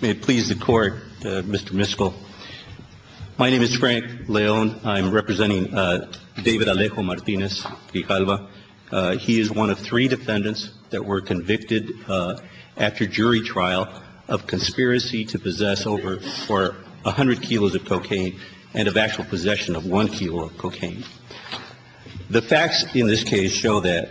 May it please the court, Mr. Miskell. My name is Frank Leone. I'm representing David Alejo Martinez-Rijalva. He is one of three defendants that were convicted after jury trial of conspiracy to possess over a hundred kilos of cocaine and of actual possession of one kilo of cocaine. The facts in this case show that,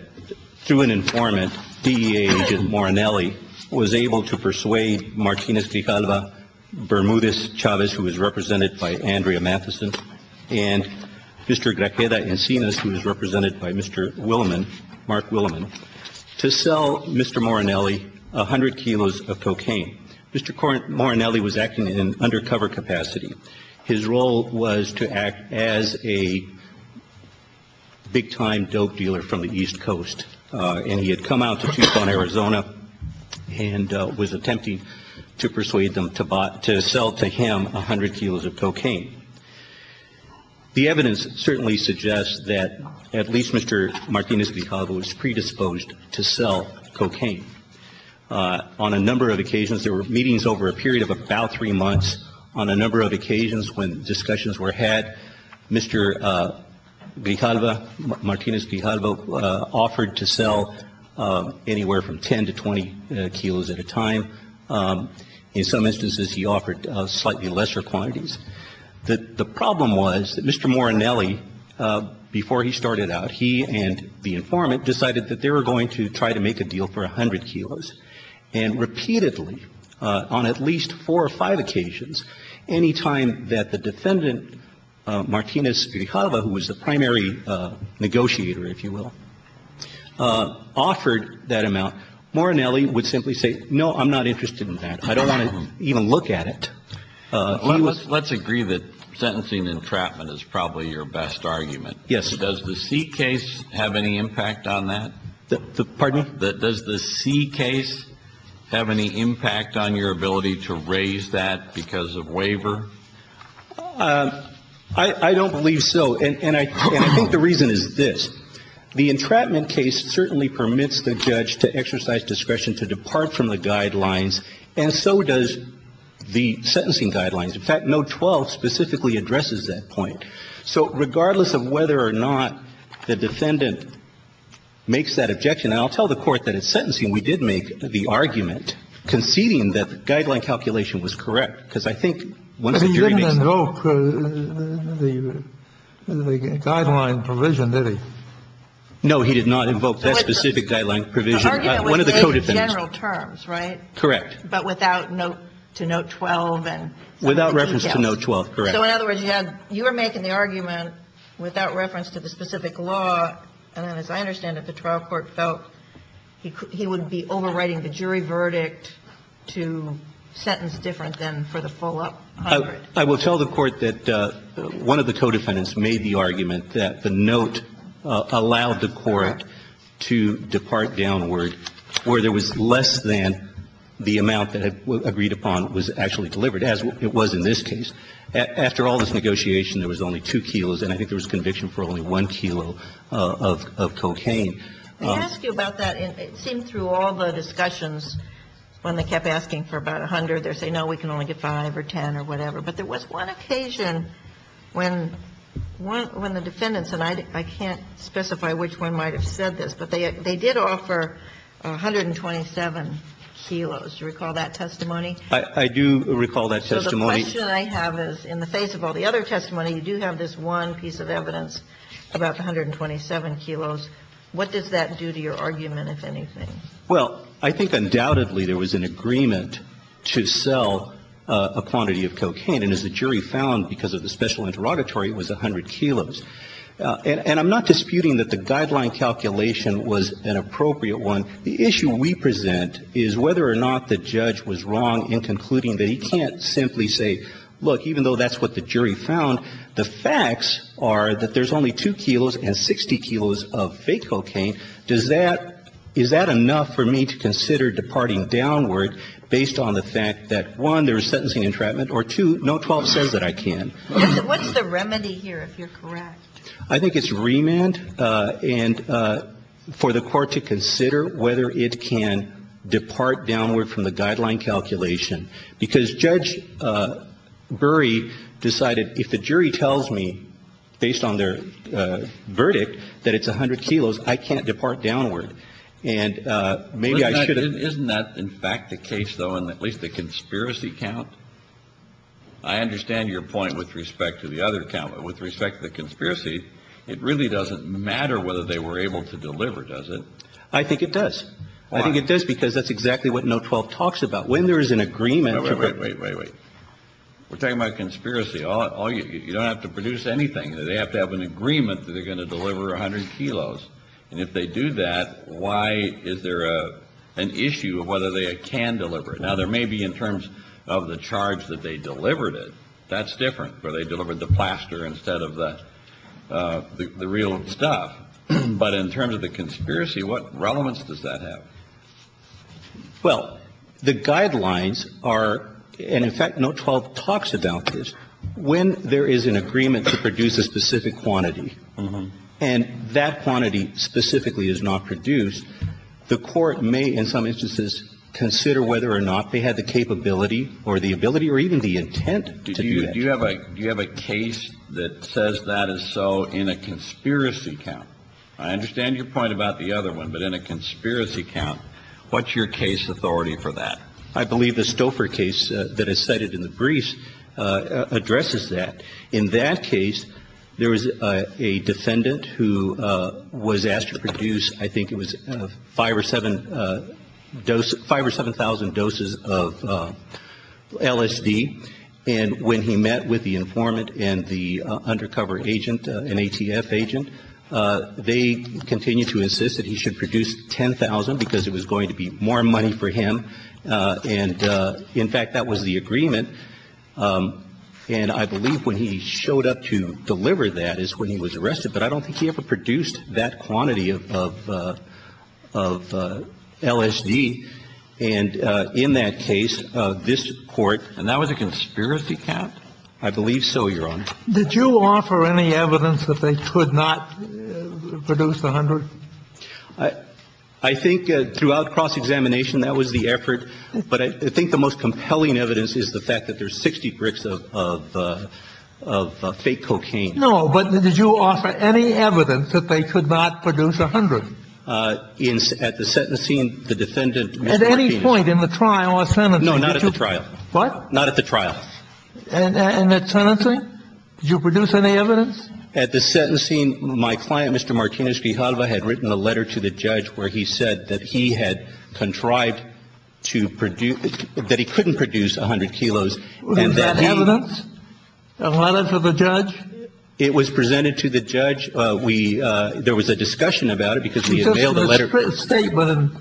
through an informant, DEA agent Morinelli was able to persuade Martinez-Rijalva, Bermudez-Chavez, who is represented by Andrea Matheson, and Mr. Grajeda Encinas, who is represented by Mr. Willeman, Mark Willeman, to sell Mr. Morinelli a hundred kilos of cocaine. Mr. Morinelli was acting in an undercover capacity. His role was to act as a big-time dope dealer from the East Coast. And he had come out to Tucson, Arizona, and was attempting to persuade them to sell to him a hundred kilos of cocaine. The evidence certainly suggests that at least Mr. Martinez-Rijalva was predisposed to sell cocaine. On a number of occasions, there were meetings over a period of about three months, on a number of occasions when discussions were had, Mr. Rijalva, Martinez-Rijalva offered to sell anywhere from 10 to 20 kilos at a time. In some instances, he offered slightly lesser quantities. The problem was that Mr. Morinelli, before he started out, he and the informant decided that they were going to try to make a deal for a hundred kilos. And repeatedly, on at least four or five occasions, any time that the defendant, Martinez-Rijalva, who was the primary negotiator, if you will, offered that amount, Morinelli would simply say, no, I'm not interested in that. I don't want to even look at it. Let's agree that sentencing entrapment is probably your best argument. Yes. Does the C case have any impact on that? Pardon me? Does the C case have any impact on your ability to raise that because of waiver? I don't believe so. And I think the reason is this. The entrapment case certainly permits the judge to exercise discretion to depart from the guidelines, and so does the sentencing guidelines. In fact, note 12 specifically addresses that point. So regardless of whether or not the defendant makes that objection, and I'll tell the Court that in sentencing, we did make the argument conceding that the guideline calculation was correct. Because I think once the jury makes the judgment... But he didn't invoke the guideline provision, did he? No, he did not invoke that specific guideline provision. The argument was made in general terms, right? Correct. But without note to note 12 and some details. Without reference to note 12, correct. So in other words, you had you were making the argument without reference to the specific law. And then as I understand it, the trial court felt he would be overriding the jury verdict to sentence different than for the full-up. I will tell the Court that one of the co-defendants made the argument that the note allowed the Court to depart downward where there was less than the amount that agreed upon was actually delivered, as it was in this case. After all this negotiation, there was only 2 kilos, and I think there was conviction for only 1 kilo of cocaine. Let me ask you about that. It seemed through all the discussions, when they kept asking for about 100, they're saying, no, we can only get 5 or 10 or whatever. But there was one occasion when the defendants, and I can't specify which one might have said this, but they did offer 127 kilos. Do you recall that testimony? I do recall that testimony. The question I have is, in the face of all the other testimony, you do have this one piece of evidence about the 127 kilos. What does that do to your argument, if anything? Well, I think undoubtedly there was an agreement to sell a quantity of cocaine. And as the jury found because of the special interrogatory, it was 100 kilos. And I'm not disputing that the guideline calculation was an appropriate one. Now, the issue we present is whether or not the judge was wrong in concluding that he can't simply say, look, even though that's what the jury found, the facts are that there's only 2 kilos and 60 kilos of fake cocaine. Does that – is that enough for me to consider departing downward based on the fact that, one, there was sentencing entrapment, or, two, no 12 says that I can. What's the remedy here, if you're correct? I think it's remand and for the court to consider whether it can depart downward from the guideline calculation. Because Judge Burry decided if the jury tells me, based on their verdict, that it's 100 kilos, I can't depart downward. And maybe I should have – Isn't that in fact the case, though, in at least the conspiracy count? I understand your point with respect to the other count, but with respect to the conspiracy, it really doesn't matter whether they were able to deliver, does it? I think it does. Why? I think it does because that's exactly what no 12 talks about. When there is an agreement to – Wait, wait, wait, wait, wait. We're talking about conspiracy. You don't have to produce anything. They have to have an agreement that they're going to deliver 100 kilos. And if they do that, why is there an issue of whether they can deliver it? Now, there may be in terms of the charge that they delivered it. That's different, where they delivered the plaster instead of the real stuff. But in terms of the conspiracy, what relevance does that have? Well, the guidelines are – and in fact, no 12 talks about this. When there is an agreement to produce a specific quantity and that quantity specifically is not produced, the court may in some instances consider whether or not they had the capability or the ability or even the intent to do that. Do you have a case that says that is so in a conspiracy count? I understand your point about the other one, but in a conspiracy count, what's your case authority for that? I believe the Stouffer case that is cited in the briefs addresses that. In that case, there was a defendant who was asked to produce, I think it was 5 or 7,000 doses of LSD. And when he met with the informant and the undercover agent, an ATF agent, they continued to insist that he should produce 10,000 because it was going to be more money for him. And in fact, that was the agreement. And I believe when he showed up to deliver that is when he was arrested. But I don't think he ever produced that quantity of LSD. And in that case, this Court – and that was a conspiracy count? I believe so, Your Honor. Did you offer any evidence that they could not produce 100? I think throughout cross-examination, that was the effort. But I think the most compelling evidence is the fact that there's 60 bricks of fake cocaine. No, but did you offer any evidence that they could not produce 100? At the sentencing, the defendant – At any point in the trial or sentencing? No, not at the trial. What? Not at the trial. And at sentencing, did you produce any evidence? At the sentencing, my client, Mr. Martinez Grijalva, had written a letter to the judge where he said that he had contrived to produce – that he couldn't produce 100 kilos and that he – Was that evidence? A letter to the judge? It was presented to the judge. We – there was a discussion about it because we had mailed a letter – It's just a statement.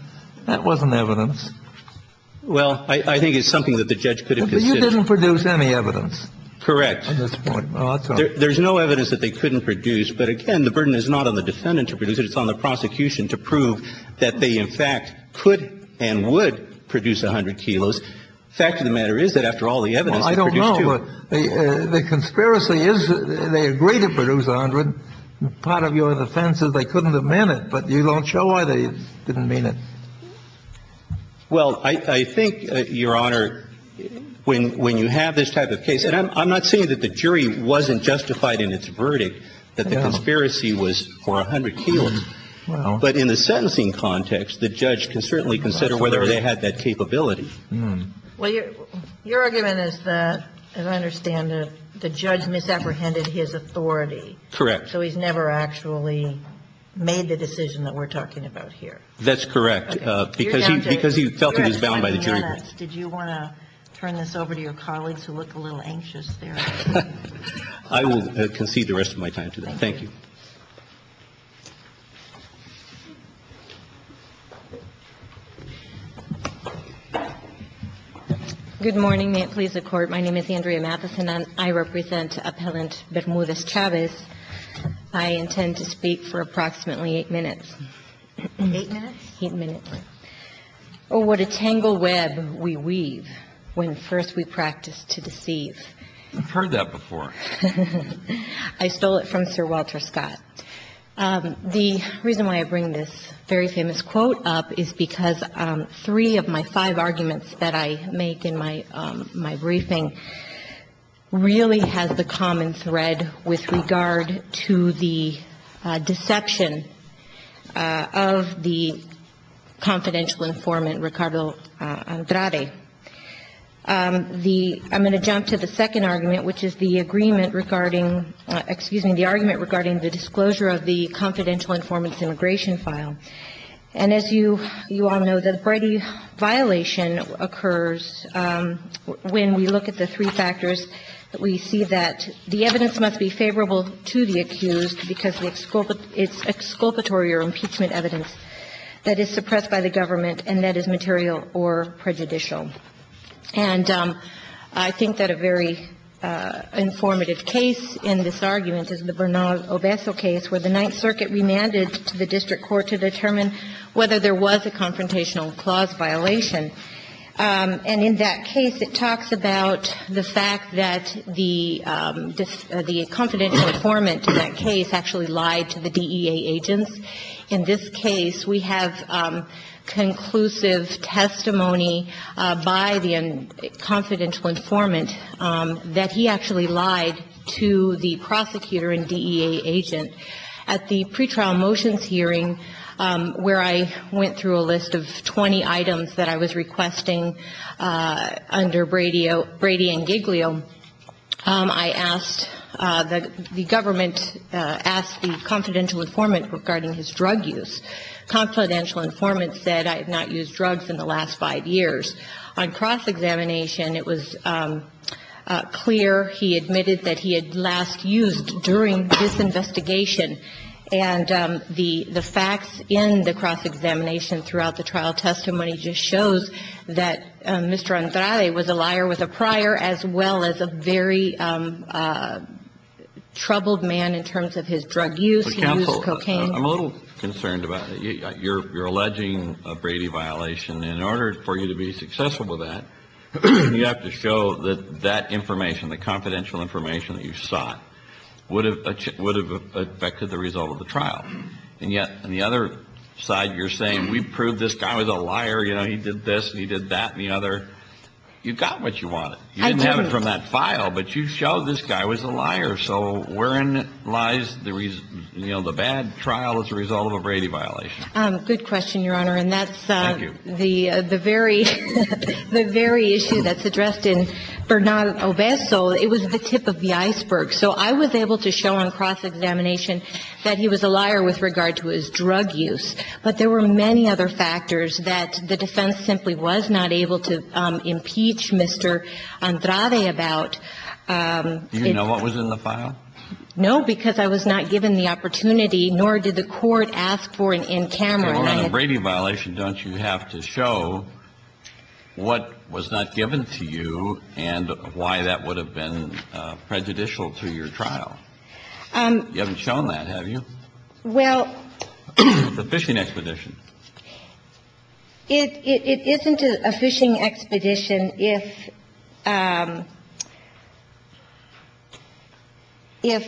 That wasn't evidence. Well, I think it's something that the judge could have considered. But you didn't produce any evidence? Correct. At this point. There's no evidence that they couldn't produce. But, again, the burden is not on the defendant to produce it. It's on the prosecution to prove that they, in fact, could and would produce 100 kilos. The fact of the matter is that, after all the evidence, they produced two. Well, I don't know. The conspiracy is that they agreed to produce 100. Part of your defense is they couldn't have meant it. But you don't show why they didn't mean it. Well, I think, Your Honor, when you have this type of case – And I'm not saying that the jury wasn't justified in its verdict, that the conspiracy was for 100 kilos. But in the sentencing context, the judge can certainly consider whether they had that capability. Well, your argument is that, as I understand it, the judge misapprehended his authority. Correct. So he's never actually made the decision that we're talking about here. That's correct. Because he felt he was bound by the jury rule. Mr. Chavez, did you want to turn this over to your colleagues who look a little anxious there? I will concede the rest of my time to them. Thank you. Good morning. May it please the Court, my name is Andrea Matheson, and I represent Appellant Bermudez-Chavez. I intend to speak for approximately eight minutes. Eight minutes? Eight minutes. Oh, what a tangled web we weave when first we practice to deceive. I've heard that before. I stole it from Sir Walter Scott. The reason why I bring this very famous quote up is because three of my five arguments that I make in my briefing really has the common thread with regard to the deception of the confidential informant, Ricardo Andrade. I'm going to jump to the second argument, which is the agreement regarding the disclosure of the confidential informant's immigration file. And as you all know, the Brady violation occurs when we look at the three factors. We see that the evidence must be favorable to the accused because it's exculpatory or impeachment evidence that is suppressed by the government and that is material or prejudicial. And I think that a very informative case in this argument is the Bernal Obeso case, where the Ninth Circuit remanded to the district court to determine whether there was a confrontational clause violation. And in that case, it talks about the fact that the confidential informant in that case actually lied to the DEA agents. In this case, we have conclusive testimony by the confidential informant that he actually lied to the prosecutor and DEA agent. At the pretrial motions hearing, where I went through a list of 20 items that I was requesting under Brady and Giglio, I asked the government, asked the confidential informant regarding his drug use. Confidential informant said, I have not used drugs in the last five years. On cross-examination, it was clear he admitted that he had last used during this investigation. And the facts in the cross-examination throughout the trial testimony just shows that Mr. Andrade was a liar with a prior as well as a very troubled man in terms of his drug use. He used cocaine. I'm a little concerned about it. You're alleging a Brady violation. In order for you to be successful with that, you have to show that that information, the confidential information that you sought, would have affected the result of the trial. And yet, on the other side, you're saying, we proved this guy was a liar. You know, he did this and he did that and the other. You got what you wanted. I did. So, where in lies the bad trial as a result of a Brady violation? Good question, Your Honor. Thank you. And that's the very issue that's addressed in Bernal Obeso. It was the tip of the iceberg. So I was able to show on cross-examination that he was a liar with regard to his drug use. But there were many other factors that the defense simply was not able to impeach Mr. Andrade about. Do you know what was in the file? No, because I was not given the opportunity, nor did the court ask for an in camera. Well, on a Brady violation, don't you have to show what was not given to you and why that would have been prejudicial to your trial? You haven't shown that, have you? Well. The fishing expedition. It isn't a fishing expedition if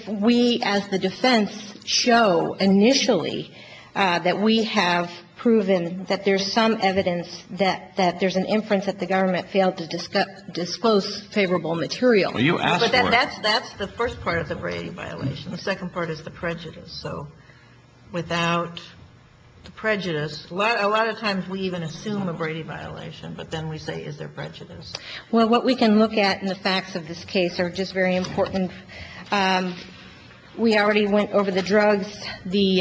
we, as the defense, show initially that we have proven that there's some evidence that there's an inference that the government failed to disclose favorable material. Well, you asked for it. But that's the first part of the Brady violation. The second part is the prejudice. So without prejudice, a lot of times we even assume a Brady violation, but then we say, is there prejudice? Well, what we can look at in the facts of this case are just very important. We already went over the drugs. The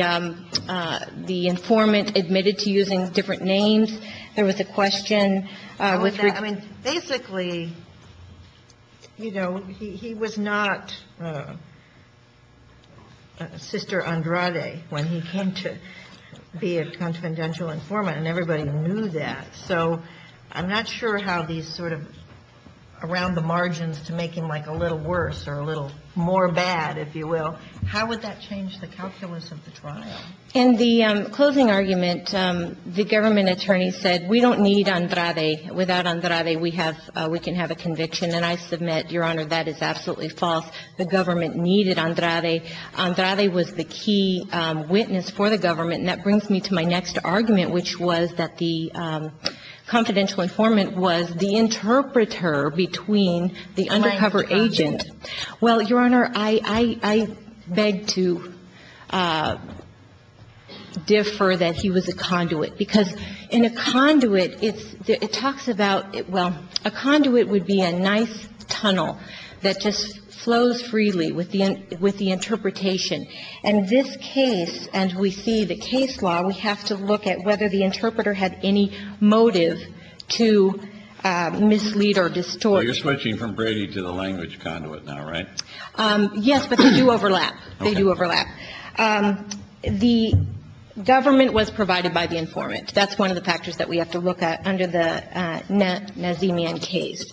informant admitted to using different names. There was a question. Basically, you know, he was not Sister Andrade when he came to be a confidential informant, and everybody knew that. So I'm not sure how these sort of around the margins to make him like a little worse or a little more bad, if you will. How would that change the calculus of the trial? In the closing argument, the government attorney said, we don't need Andrade. Without Andrade, we can have a conviction. And I submit, Your Honor, that is absolutely false. The government needed Andrade. Andrade was the key witness for the government. And that brings me to my next argument, which was that the confidential informant was the interpreter between the undercover agent. Well, Your Honor, I beg to differ that he was a conduit. Because in a conduit, it talks about, well, a conduit would be a nice tunnel that just flows freely with the interpretation. In this case, and we see the case law, we have to look at whether the interpreter had any motive to mislead or distort. So you're switching from Brady to the language conduit now, right? Yes, but they do overlap. They do overlap. The government was provided by the informant. That's one of the factors that we have to look at under the Nazemian case.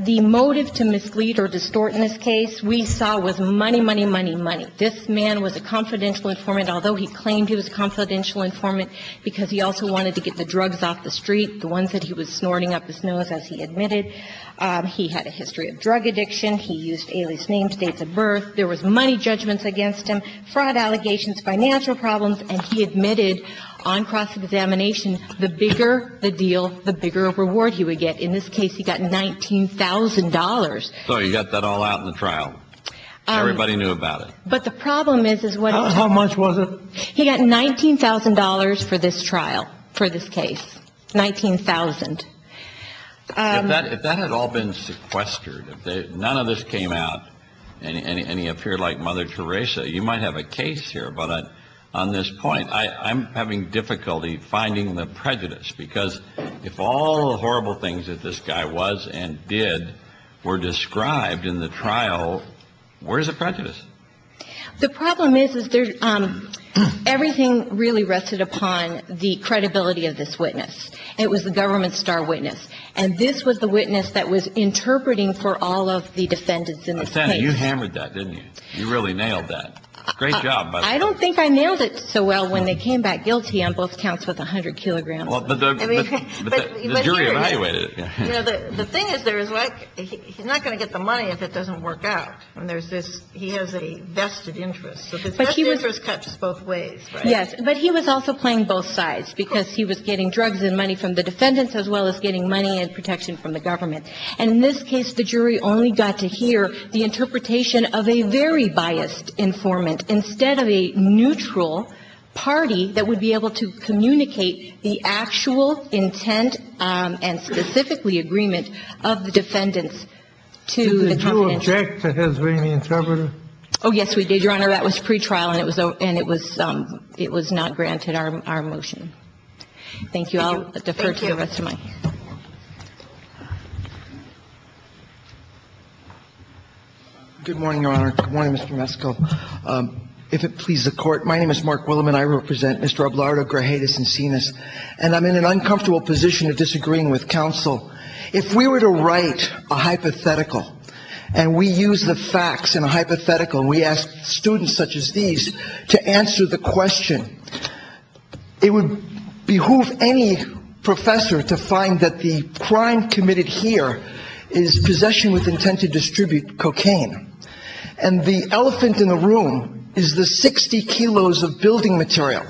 The motive to mislead or distort in this case we saw was money, money, money, money. This man was a confidential informant, although he claimed he was a confidential informant because he also wanted to get the drugs off the street, the ones that he was He had a history of drug addiction. He used alias names, dates of birth. There was money judgments against him, fraud allegations, financial problems. And he admitted on cross-examination, the bigger the deal, the bigger reward he would get. In this case, he got $19,000. So he got that all out in the trial. Everybody knew about it. But the problem is, is what it took. How much was it? He got $19,000 for this trial, for this case, $19,000. If that had all been sequestered, if none of this came out and he appeared like Mother Teresa, you might have a case here. But on this point, I'm having difficulty finding the prejudice. Because if all the horrible things that this guy was and did were described in the trial, where's the prejudice? The problem is, is everything really rested upon the credibility of this witness. It was the government star witness. And this was the witness that was interpreting for all of the defendants in this case. But, Sandy, you hammered that, didn't you? You really nailed that. Great job. I don't think I nailed it so well when they came back guilty on both counts with 100 kilograms. But the jury evaluated it. You know, the thing is, there is like, he's not going to get the money if it doesn't work out. And there's this, he has a vested interest. So the vested interest cuts both ways, right? Yes. But he was also playing both sides because he was getting drugs and money from the defendants as well as getting money and protection from the government. And in this case, the jury only got to hear the interpretation of a very biased informant instead of a neutral party that would be able to communicate the actual intent and specifically agreement of the defendants to the government. Did you object to his being the interpreter? Oh, yes, we did, Your Honor. That was pretrial, and it was not granted our motion. Thank you. I'll defer to the rest of mine. Thank you. Good morning, Your Honor. Good morning, Mr. Mesco. If it pleases the Court, my name is Mark Willam, and I represent Mr. Ablardo, Grajetas, and Sinas. And I'm in an uncomfortable position of disagreeing with counsel. If we were to write a hypothetical and we use the facts in a hypothetical and we ask students such as these to answer the question, it would behoove any professor to find that the crime committed here is possession with intent to distribute cocaine. And the elephant in the room is the 60 kilos of building material.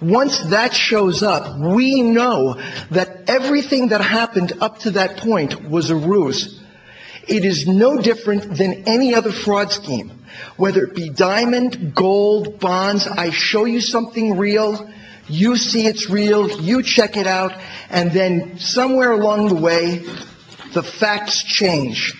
Once that shows up, we know that everything that happened up to that point was a ruse. It is no different than any other fraud scheme, whether it be diamond, gold, bonds. I show you something real. You see it's real. You check it out. And then somewhere along the way, the facts change.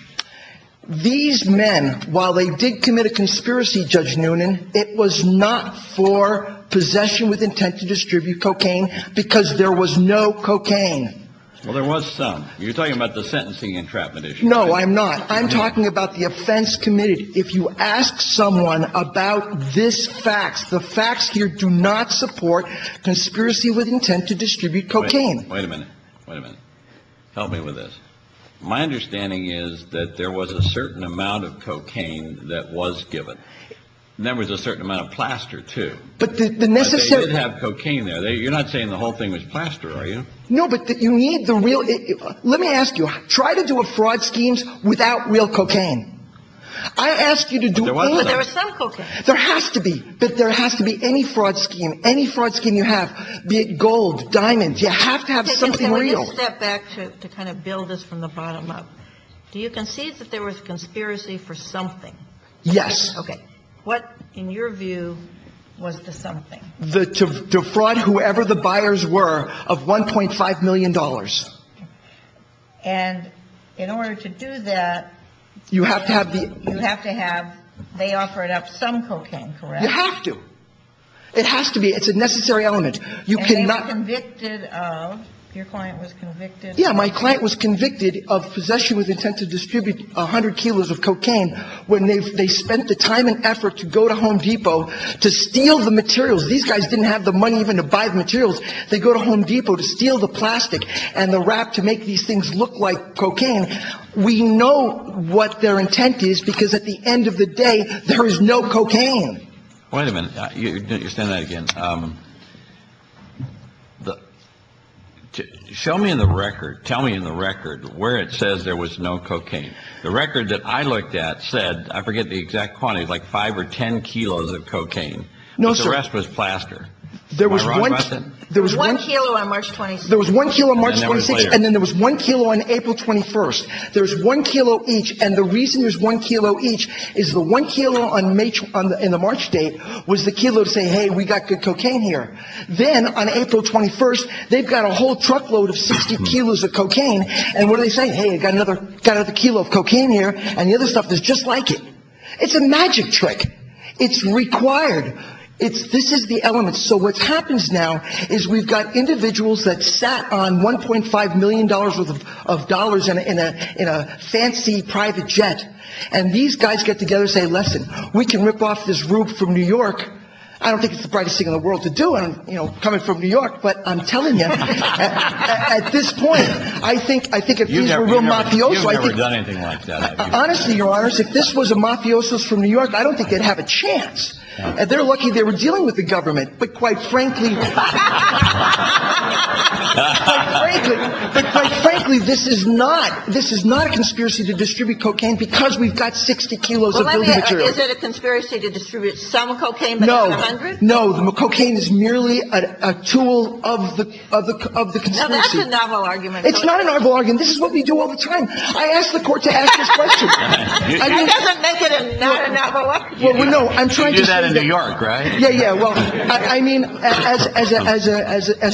These men, while they did commit a conspiracy, Judge Noonan, it was not for possession with intent to distribute cocaine because there was no cocaine. Well, there was some. You're talking about the sentencing entrapment issue. No, I'm not. I'm talking about the offense committed. If you ask someone about this fact, the facts here do not support conspiracy with intent to distribute cocaine. Wait a minute. Wait a minute. Help me with this. My understanding is that there was a certain amount of cocaine that was given. And there was a certain amount of plaster, too. But the necessity to have cocaine there, you're not saying the whole thing was plaster, are you? No, but you need the real – let me ask you. Try to do a fraud scheme without real cocaine. I ask you to do any – But there was some cocaine. There has to be. But there has to be any fraud scheme, any fraud scheme you have, be it gold, diamonds. You have to have something real. Let me step back to kind of build this from the bottom up. Do you concede that there was a conspiracy for something? Yes. Okay. What, in your view, was the something? The fraud, whoever the buyers were, of $1.5 million. And in order to do that, you have to have – You have to have – they offered up some cocaine, correct? You have to. It has to be. It's a necessary element. You cannot – And they were convicted of – your client was convicted of – Yeah, my client was convicted of possession with intent to distribute 100 kilos of cocaine when they spent the time and effort to go to Home Depot to steal the materials. These guys didn't have the money even to buy the materials. They go to Home Depot to steal the plastic and the wrap to make these things look like cocaine. We know what their intent is because at the end of the day, there is no cocaine. Wait a minute. You're saying that again. Show me in the record – tell me in the record where it says there was no cocaine. The record that I looked at said – I forget the exact quantity – like five or ten kilos of cocaine. No, sir. But the rest was plaster. Am I wrong about that? There was one – One kilo on March 26th. There was one kilo on March 26th. And then there was one kilo on April 21st. There was one kilo each. And the reason there's one kilo each is the one kilo in the March date was the kilo to say, hey, we got good cocaine here. Then on April 21st, they've got a whole truckload of 60 kilos of cocaine. And what are they saying? Hey, I've got another kilo of cocaine here. And the other stuff is just like it. It's a magic trick. It's required. This is the element. So what happens now is we've got individuals that sat on $1.5 million worth of dollars in a fancy private jet. And these guys get together and say, listen, we can rip off this roof from New York. I don't think it's the brightest thing in the world to do coming from New York, but I'm telling you. At this point, I think if these were real mafiosos – You've never done anything like that, have you? Honestly, Your Honors, if this was a mafiosos from New York, I don't think they'd have a chance. They're lucky they were dealing with the government. But quite frankly, this is not a conspiracy to distribute cocaine because we've got 60 kilos of building material. Is it a conspiracy to distribute some cocaine but not 100? No. Cocaine is merely a tool of the conspiracy. That's a novel argument. It's not a novel argument. This is what we do all the time. I asked the court to ask this question. That's a negative, not a novel argument. You do that in New York, right? Yeah, yeah. Well, I mean, as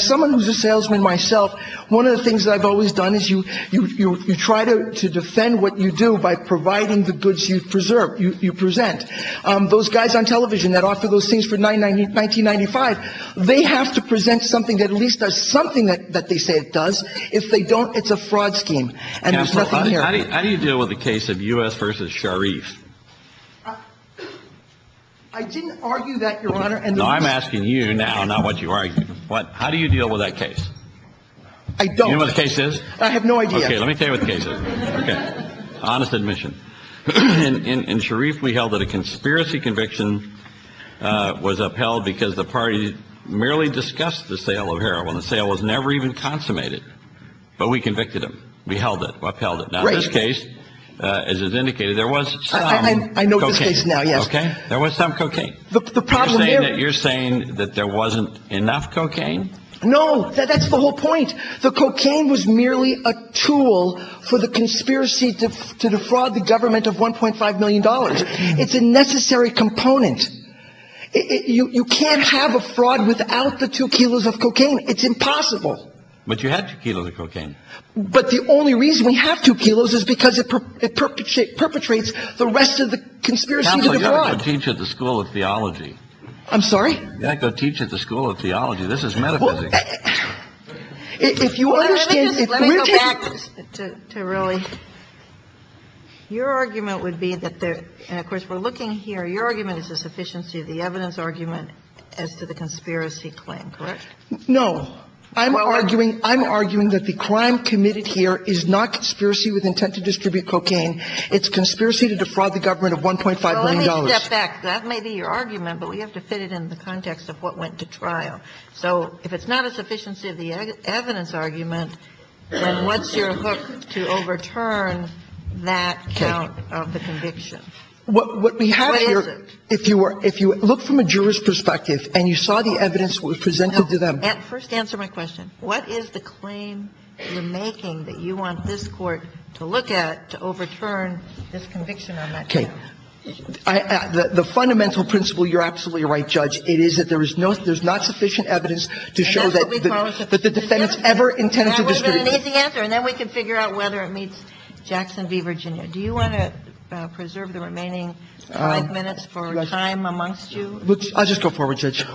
someone who's a salesman myself, one of the things I've always done is you try to defend what you do by providing the goods you present. Those guys on television that offer those things for $19.95, they have to present something that at least does something that they say it does. If they don't, it's a fraud scheme. Counsel, how do you deal with the case of U.S. v. Sharif? I didn't argue that, Your Honor. No, I'm asking you now, not what you argued. How do you deal with that case? I don't. Do you know what the case is? I have no idea. Okay, let me tell you what the case is. Okay. Honest admission. In Sharif, we held that a conspiracy conviction was upheld because the party merely discussed the sale of heroin. The sale was never even consummated. But we convicted them. We held it, upheld it. Now, in this case, as is indicated, there was some cocaine. I know this case now, yes. Okay. There was some cocaine. You're saying that there wasn't enough cocaine? No, that's the whole point. The cocaine was merely a tool for the conspiracy to defraud the government of $1.5 million. It's a necessary component. You can't have a fraud without the two kilos of cocaine. It's impossible. But you had two kilos of cocaine. But the only reason we have two kilos is because it perpetrates the rest of the conspiracy to defraud. Counsel, you ought to go teach at the School of Theology. I'm sorry? You ought to go teach at the School of Theology. This is metaphysics. If you understand, if we're taking this to really – your argument would be that there – and, of course, we're looking here. Your argument is the sufficiency of the evidence argument as to the conspiracy claim, correct? No. I'm arguing – I'm arguing that the crime committed here is not conspiracy with intent to distribute cocaine. It's conspiracy to defraud the government of $1.5 million. Well, let me step back. That may be your argument, but we have to fit it in the context of what went to trial. So if it's not a sufficiency of the evidence argument, then what's your hook to overturn that count of the conviction? What we have here – What is it? If you look from a juror's perspective and you saw the evidence that was presented to them – First, answer my question. What is the claim you're making that you want this Court to look at to overturn this conviction on that count? Okay. The fundamental principle – you're absolutely right, Judge – it is that there is no – there's not sufficient evidence to show that – And that's what we call a – That the defendants ever intended to distribute – That would have been an easy answer, and then we could figure out whether it meets Jackson v. Virginia. Do you want to preserve the remaining five minutes for time amongst you? I'll just go forward, Judge.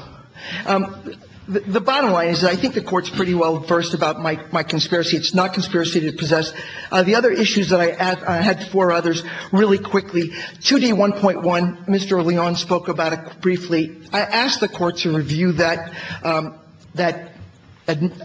The bottom line is that I think the Court's pretty well versed about my conspiracy. It's not conspiracy to possess. The other issues that I had before others really quickly, 2D1.1, Mr. Leon spoke about it briefly. I asked the Court to review that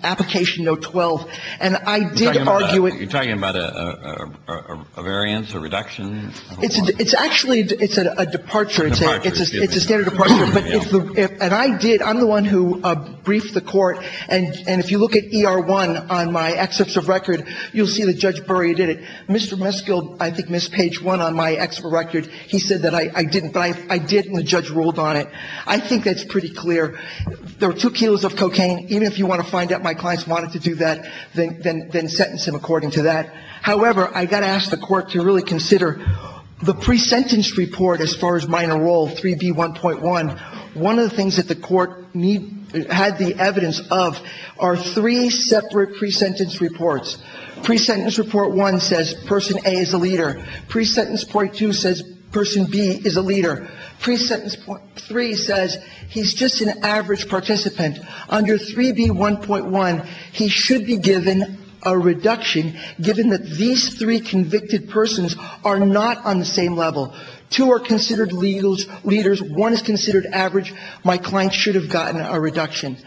application, note 12, and I did argue it – You're talking about a variance, a reduction? It's actually – it's a departure. It's a standard departure. And I did – I'm the one who briefed the Court, and if you look at ER1 on my excerpts of record, you'll see that Judge Burry did it. Mr. Musgill, I think, missed page 1 on my excerpt of record. He said that I didn't, but I did, and the judge ruled on it. I think that's pretty clear. There were two kilos of cocaine. Even if you want to find out my clients wanted to do that, then sentence him according to that. However, I got to ask the Court to really consider the pre-sentence report as far as minor role, 3B1.1. One of the things that the Court had the evidence of are three separate pre-sentence reports. Pre-sentence report one says person A is a leader. Pre-sentence point two says person B is a leader. Pre-sentence point three says he's just an average participant. Under 3B1.1, he should be given a reduction given that these three convicted persons are not on the same level. Two are considered leaders. One is considered average. My client should have gotten a reduction.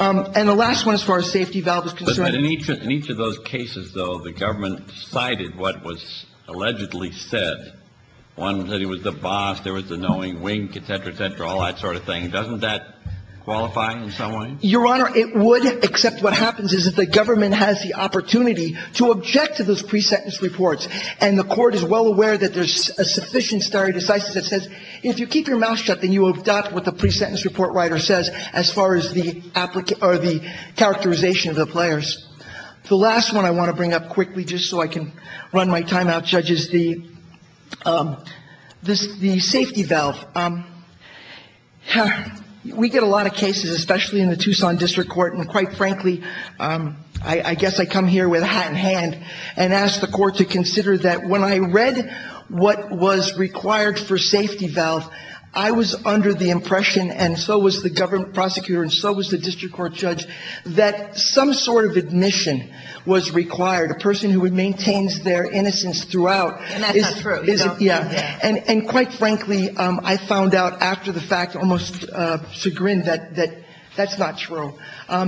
And the last one as far as safety valve is concerned. But in each of those cases, though, the government cited what was allegedly said. One said he was the boss. There was the knowing wink, et cetera, et cetera, all that sort of thing. Doesn't that qualify in some way? Your Honor, it would, except what happens is that the government has the opportunity to object to those pre-sentence reports. And the Court is well aware that there's a sufficient stare decisis that says if you keep your mouth shut, then you will adopt what the pre-sentence report writer says as far as the characterization of the players. The last one I want to bring up quickly just so I can run my time out, Judge, is the safety valve. We get a lot of cases, especially in the Tucson District Court, and quite frankly, I guess I come here with a hat in hand and ask the Court to consider that when I read what was required for safety valve, I was under the impression, and so was the government prosecutor and so was the district court judge, that some sort of admission was required. A person who maintains their innocence throughout. And that's not true. And quite frankly, I found out after the fact, almost to grin, that that's not true.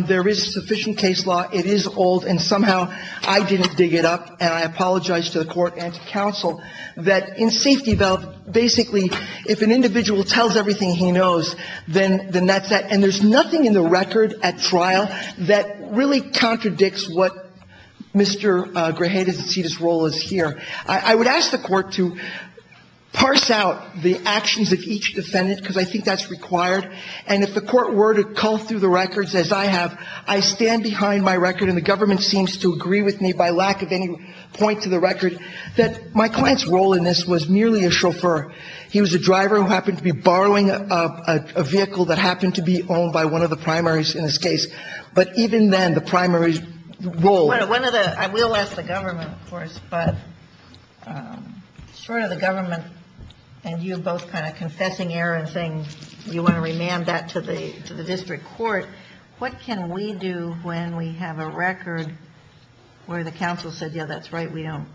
There is sufficient case law. It is old, and somehow I didn't dig it up, and I apologize to the Court and to counsel, that in safety valve, basically, if an individual tells everything he knows, then that's it. And there's nothing in the record at trial that really contradicts what Mr. Grajeda's role is here. I would ask the Court to parse out the actions of each defendant, because I think that's required. And if the Court were to cull through the records, as I have, I stand behind my record, and the government seems to agree with me by lack of any point to the record, that my client's role in this was merely a chauffeur. He was a driver who happened to be borrowing a vehicle that happened to be owned by one of the primaries in this case. But even then, the primary role. I will ask the government, of course, but sort of the government and you both kind of confessing error and saying you want to remand that to the district court, what can we do when we have a record where the counsel said, yeah, that's right, we don't,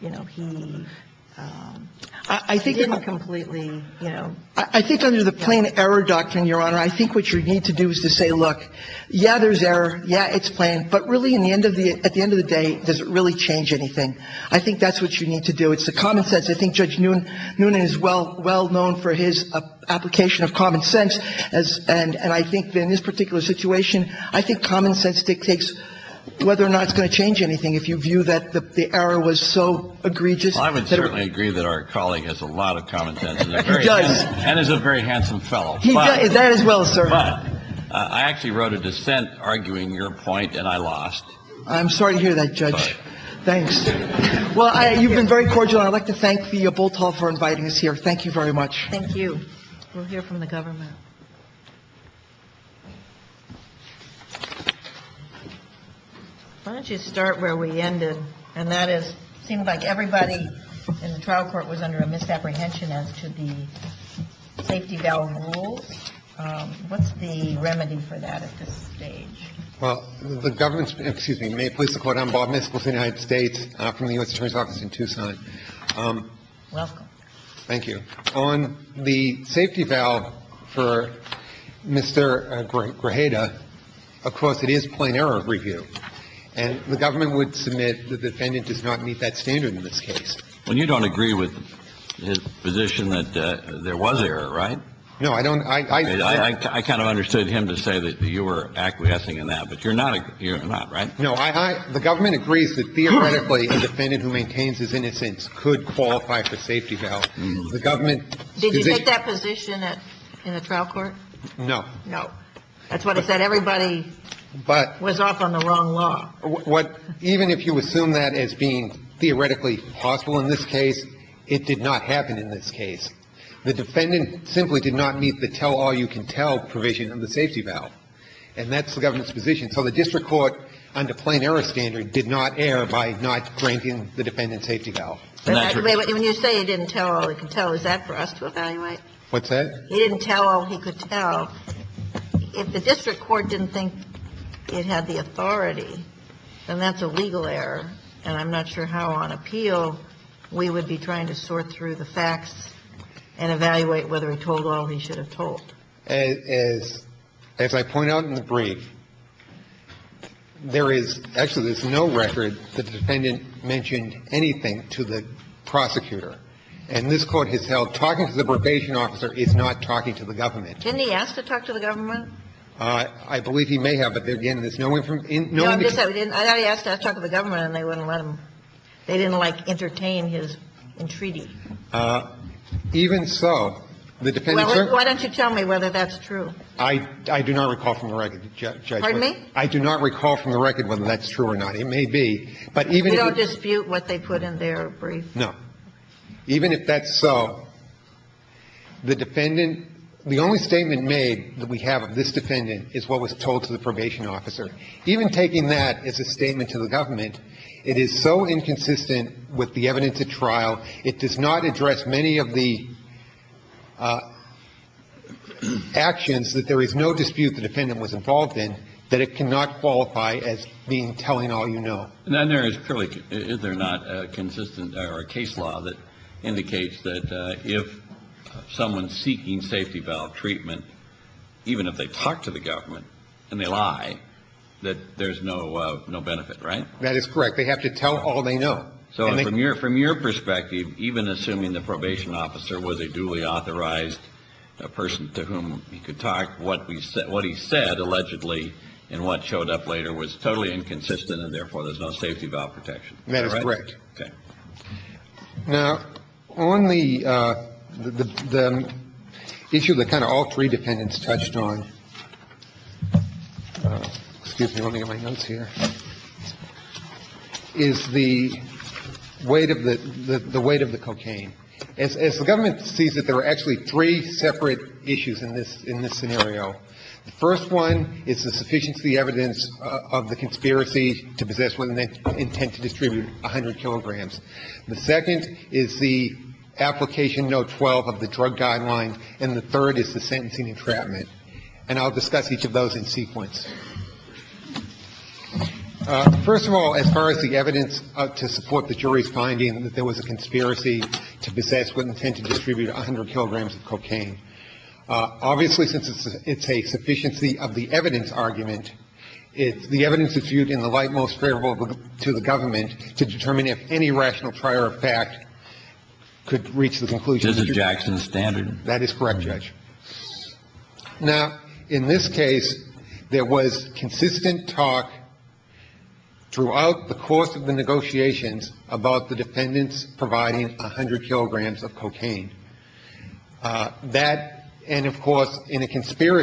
you know, he didn't completely, you know. I think under the plain error doctrine, Your Honor, I think what you need to do is to say, look, yeah, there's error. Yeah, it's plain. But really at the end of the day, does it really change anything? I think that's what you need to do. It's the common sense. I think Judge Noonan is well known for his application of common sense. And I think in this particular situation, I think common sense dictates whether or not it's going to change anything if you view that the error was so egregious. Well, I would certainly agree that our colleague has a lot of common sense. He does. And is a very handsome fellow. He does. That as well, sir. But I actually wrote a dissent arguing your point, and I lost. I'm sorry to hear that, Judge. Thanks. Well, you've been very cordial. I'd like to thank the Bull Tall for inviting us here. Thank you very much. Thank you. We'll hear from the government. Why don't you start where we ended, and that is it seemed like everybody in the trial court was under a misapprehension as to the safety valve rules. What's the remedy for that at this stage? Well, the government's been excuse me. May it please the Court. I'm Bob Niskell with the United States from the U.S. Attorney's Office in Tucson. Welcome. Thank you. On the safety valve for Mr. Grajeda, of course, it is plain error review. And the government would submit the defendant does not meet that standard in this case. Well, you don't agree with his position that there was error, right? No, I don't. I kind of understood him to say that you were acquiescing in that, but you're not. You're not, right? No. The government agrees that theoretically a defendant who maintains his innocence could qualify for safety valve. The government's position. Did you take that position in the trial court? No. No. That's what I said. Everybody was off on the wrong law. Even if you assume that as being theoretically possible in this case, it did not happen in this case. The defendant simply did not meet the tell-all-you-can-tell provision of the safety valve. And that's the government's position. So the district court, under plain error standard, did not err by not granting the defendant safety valve. When you say he didn't tell all he could tell, is that for us to evaluate? What's that? He didn't tell all he could tell. If the district court didn't think it had the authority, then that's a legal error. And I'm not sure how on appeal we would be trying to sort through the facts and evaluate whether he told all he should have told. As I point out in the brief, there is no record that the defendant mentioned anything to the prosecutor. And this Court has held talking to the probation officer is not talking to the government. Didn't he ask to talk to the government? I believe he may have, but, again, there's no indication. No indication. I thought he asked to talk to the government and they wouldn't let him. They didn't, like, entertain his entreaty. Even so, the defendant's record. Well, why don't you tell me whether that's true? I do not recall from the record, Judge. Pardon me? I do not recall from the record whether that's true or not. It may be. But even if it's. You don't dispute what they put in their brief? No. Even if that's so, the defendant – the only statement made that we have of this defendant is what was told to the probation officer. Even taking that as a statement to the government, it is so inconsistent with the evidence at trial. It does not address many of the actions that there is no dispute the defendant was involved in that it cannot qualify as being telling all you know. And then there is clearly, is there not, a consistent or a case law that indicates that if someone's seeking safety valve treatment, even if they talk to the government and they lie, that there's no benefit, right? That is correct. They have to tell all they know. So from your perspective, even assuming the probation officer was a duly authorized person to whom he could talk, what he said allegedly and what showed up later was totally inconsistent and therefore there's no safety valve protection. That is correct. Okay. Now, on the issue that kind of all three defendants touched on – excuse me, let me get my notes here – is the weight of the cocaine. As the government sees it, there are actually three separate issues in this scenario. The first one is the sufficiency of the evidence of the conspiracy to possess with intent to distribute 100 kilograms. The second is the application note 12 of the drug guidelines. And the third is the sentencing entrapment. And I'll discuss each of those in sequence. First of all, as far as the evidence to support the jury's finding that there was a conspiracy to possess with intent to distribute 100 kilograms of cocaine, obviously since it's a sufficiency of the evidence argument, it's the evidence that's viewed in the light of the jury's findings. And the third issue is that there was a consistent talk throughout the course of the negotiations about the defendants providing 100 kilograms of cocaine. And that is the most favorable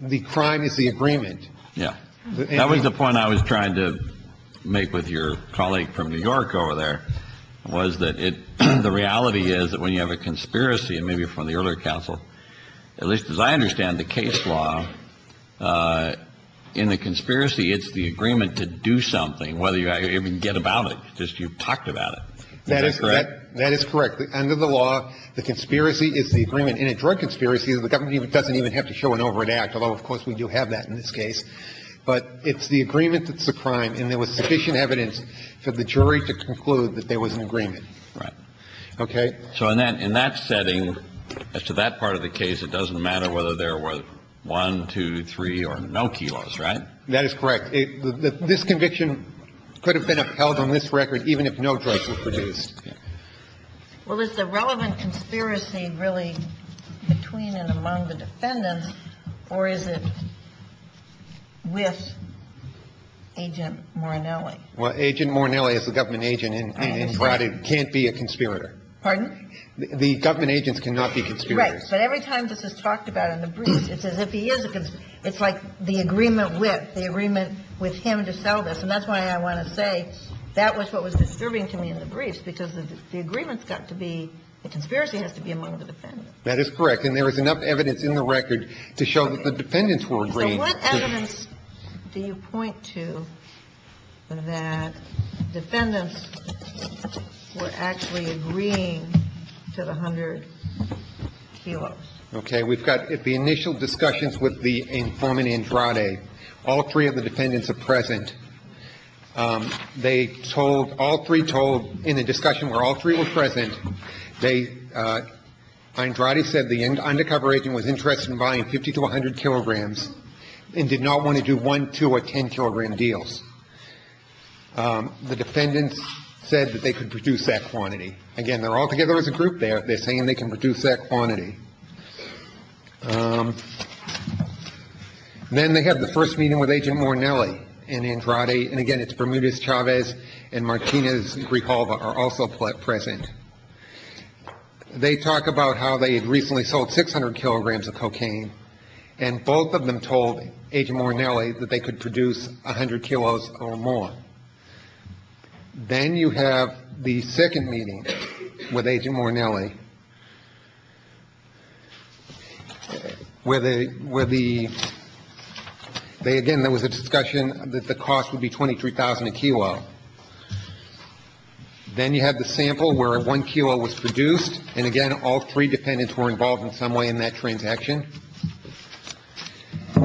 to the government to determine if any rational prior effect could reach the conclusion. Is it Jackson's standard? That is correct, Judge. That was the point I was trying to make with your colleague from New York over there, was that the reality is that when you have a conspiracy, and maybe from the earlier counsel, at least as I understand the case law, in the conspiracy, it's the agreement to do something, whether you even get about it, just you've talked about it. Is that correct? That is correct. Under the law, the conspiracy is the agreement in a drug conspiracy that the government doesn't even have to show an overt act, although, of course, we do have that in this case. But it's the agreement that's the crime, and there was sufficient evidence for the jury to conclude that there was an agreement. Right. Okay? So in that setting, as to that part of the case, it doesn't matter whether there were one, two, three, or no kilos, right? That is correct. This conviction could have been upheld on this record even if no drugs were produced. Well, is the relevant conspiracy really between and among the defendants, or is it with Agent Morinelli? Well, Agent Morinelli is the government agent and can't be a conspirator. Pardon? The government agents cannot be conspirators. Right. But every time this is talked about in the briefs, it's as if he is a conspirator. It's like the agreement with, the agreement with him to sell this, and that's why I want to say that was what was disturbing to me in the briefs, because the agreement has got to be, the conspiracy has to be among the defendants. That is correct. And there is enough evidence in the record to show that the defendants were agreeing to it. So what evidence do you point to that defendants were actually agreeing to the 100 kilos? Okay. We've got the initial discussions with the informant Andrade. All three of the defendants are present. They told, all three told in the discussion where all three were present, they, Andrade said the undercover agent was interested in buying 50 to 100 kilograms and did not want to do one, two or 10 kilogram deals. The defendants said that they could produce that quantity. Again, they're all together as a group there. They're saying they can produce that quantity. Then they have the first meeting with Agent Morinelli and Andrade, and again it's Bermudez-Chavez and Martinez-Grijalva are also present. They talk about how they had recently sold 600 kilograms of cocaine, and both of them told Agent Morinelli that they could produce 100 kilos or more. Then you have the second meeting with Agent Morinelli, where they, where the, they, again, there was a discussion that the cost would be 23,000 a kilo. Then you have the sample where one kilo was produced, and again all three defendants were involved in some way in that transaction.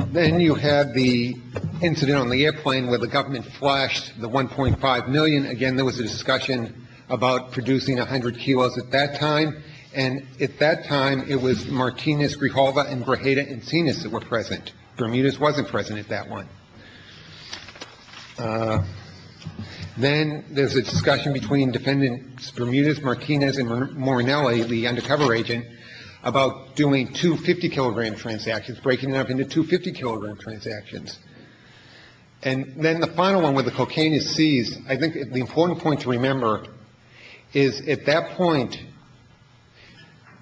Then you have the incident on the airplane where the government flashed the 1.5 million. Again, there was a discussion about producing 100 kilos at that time. And at that time, it was Martinez-Grijalva and Grajeda and Sinas that were present. Bermudez wasn't present at that one. Then there's a discussion between defendants Bermudez, Martinez, and Morinelli, the undercover agent, about doing two 50-kilogram transactions, breaking it up into two 50-kilogram transactions. And then the final one where the cocaine is seized, I think the important point to remember is at that point,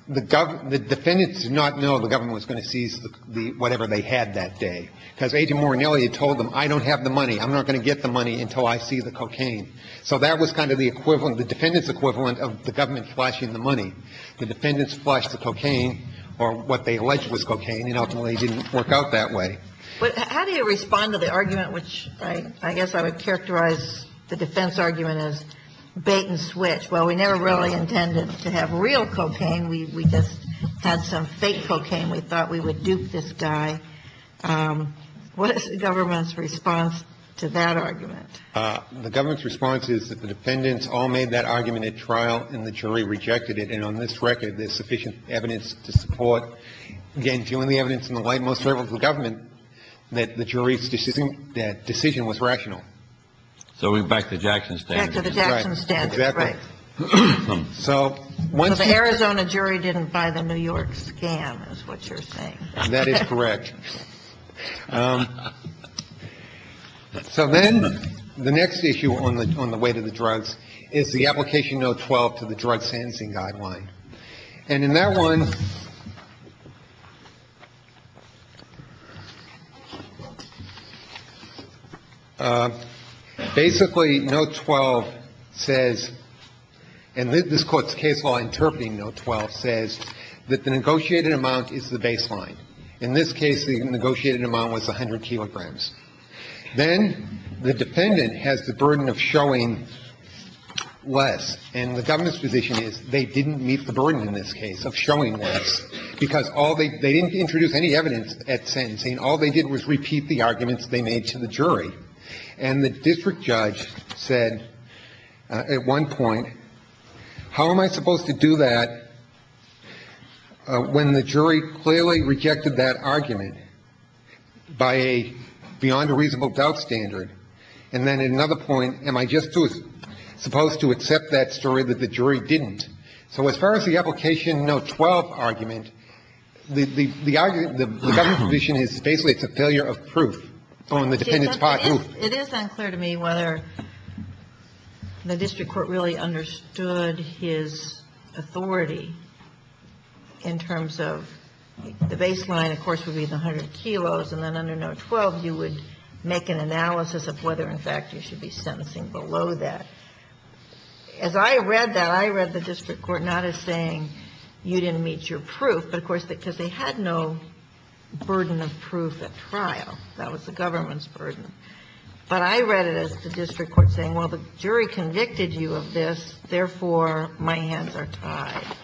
the defendants did not know the government was going to seize the, whatever they had that day. Because Agent Morinelli had told them, I don't have the money. I'm not going to get the money until I see the cocaine. So that was kind of the equivalent, the defendants' equivalent of the government flashing the money. The defendants flashed the cocaine, or what they alleged was cocaine, and ultimately it didn't work out that way. But how do you respond to the argument, which I guess I would characterize the defense argument as bait and switch? Well, we never really intended to have real cocaine. We just had some fake cocaine. We thought we would dupe this guy. What is the government's response to that argument? The government's response is that the defendants all made that argument at trial, and the jury rejected it. And on this record, there's sufficient evidence to support, again, the evidence in the light most favorable to the government, that the jury's decision was rational. So we're back to the Jackson standard. Back to the Jackson standard. Right. Exactly. So the Arizona jury didn't buy the New York scam, is what you're saying. That is correct. So then the next issue on the weight of the drugs is the Application Note 12 to the Drug Sancing Guideline. And in that one, basically, Note 12 says, and this Court's case law interpreting Note 12 says that the negotiated amount is the baseline. In this case, the negotiated amount was 100 kilograms. Then the defendant has the burden of showing less. And the government's position is they didn't meet the burden in this case of showing less, because all they did, they didn't introduce any evidence at sentencing. All they did was repeat the arguments they made to the jury. And the district judge said at one point, how am I supposed to do that when the jury clearly rejected that argument by a beyond a reasonable doubt standard? And then at another point, am I just supposed to accept that story that the jury didn't? So as far as the Application Note 12 argument, the government's position is basically it's a failure of proof on the defendant's part. It is unclear to me whether the district court really understood his authority in terms of the baseline, of course, would be the 100 kilos. And then under Note 12, you would make an analysis of whether, in fact, you should be sentencing below that. As I read that, I read the district court not as saying you didn't meet your proof, but, of course, because they had no burden of proof at trial. That was the government's burden. But I read it as the district court saying, well, the jury convicted you of this, therefore, my hands are tied.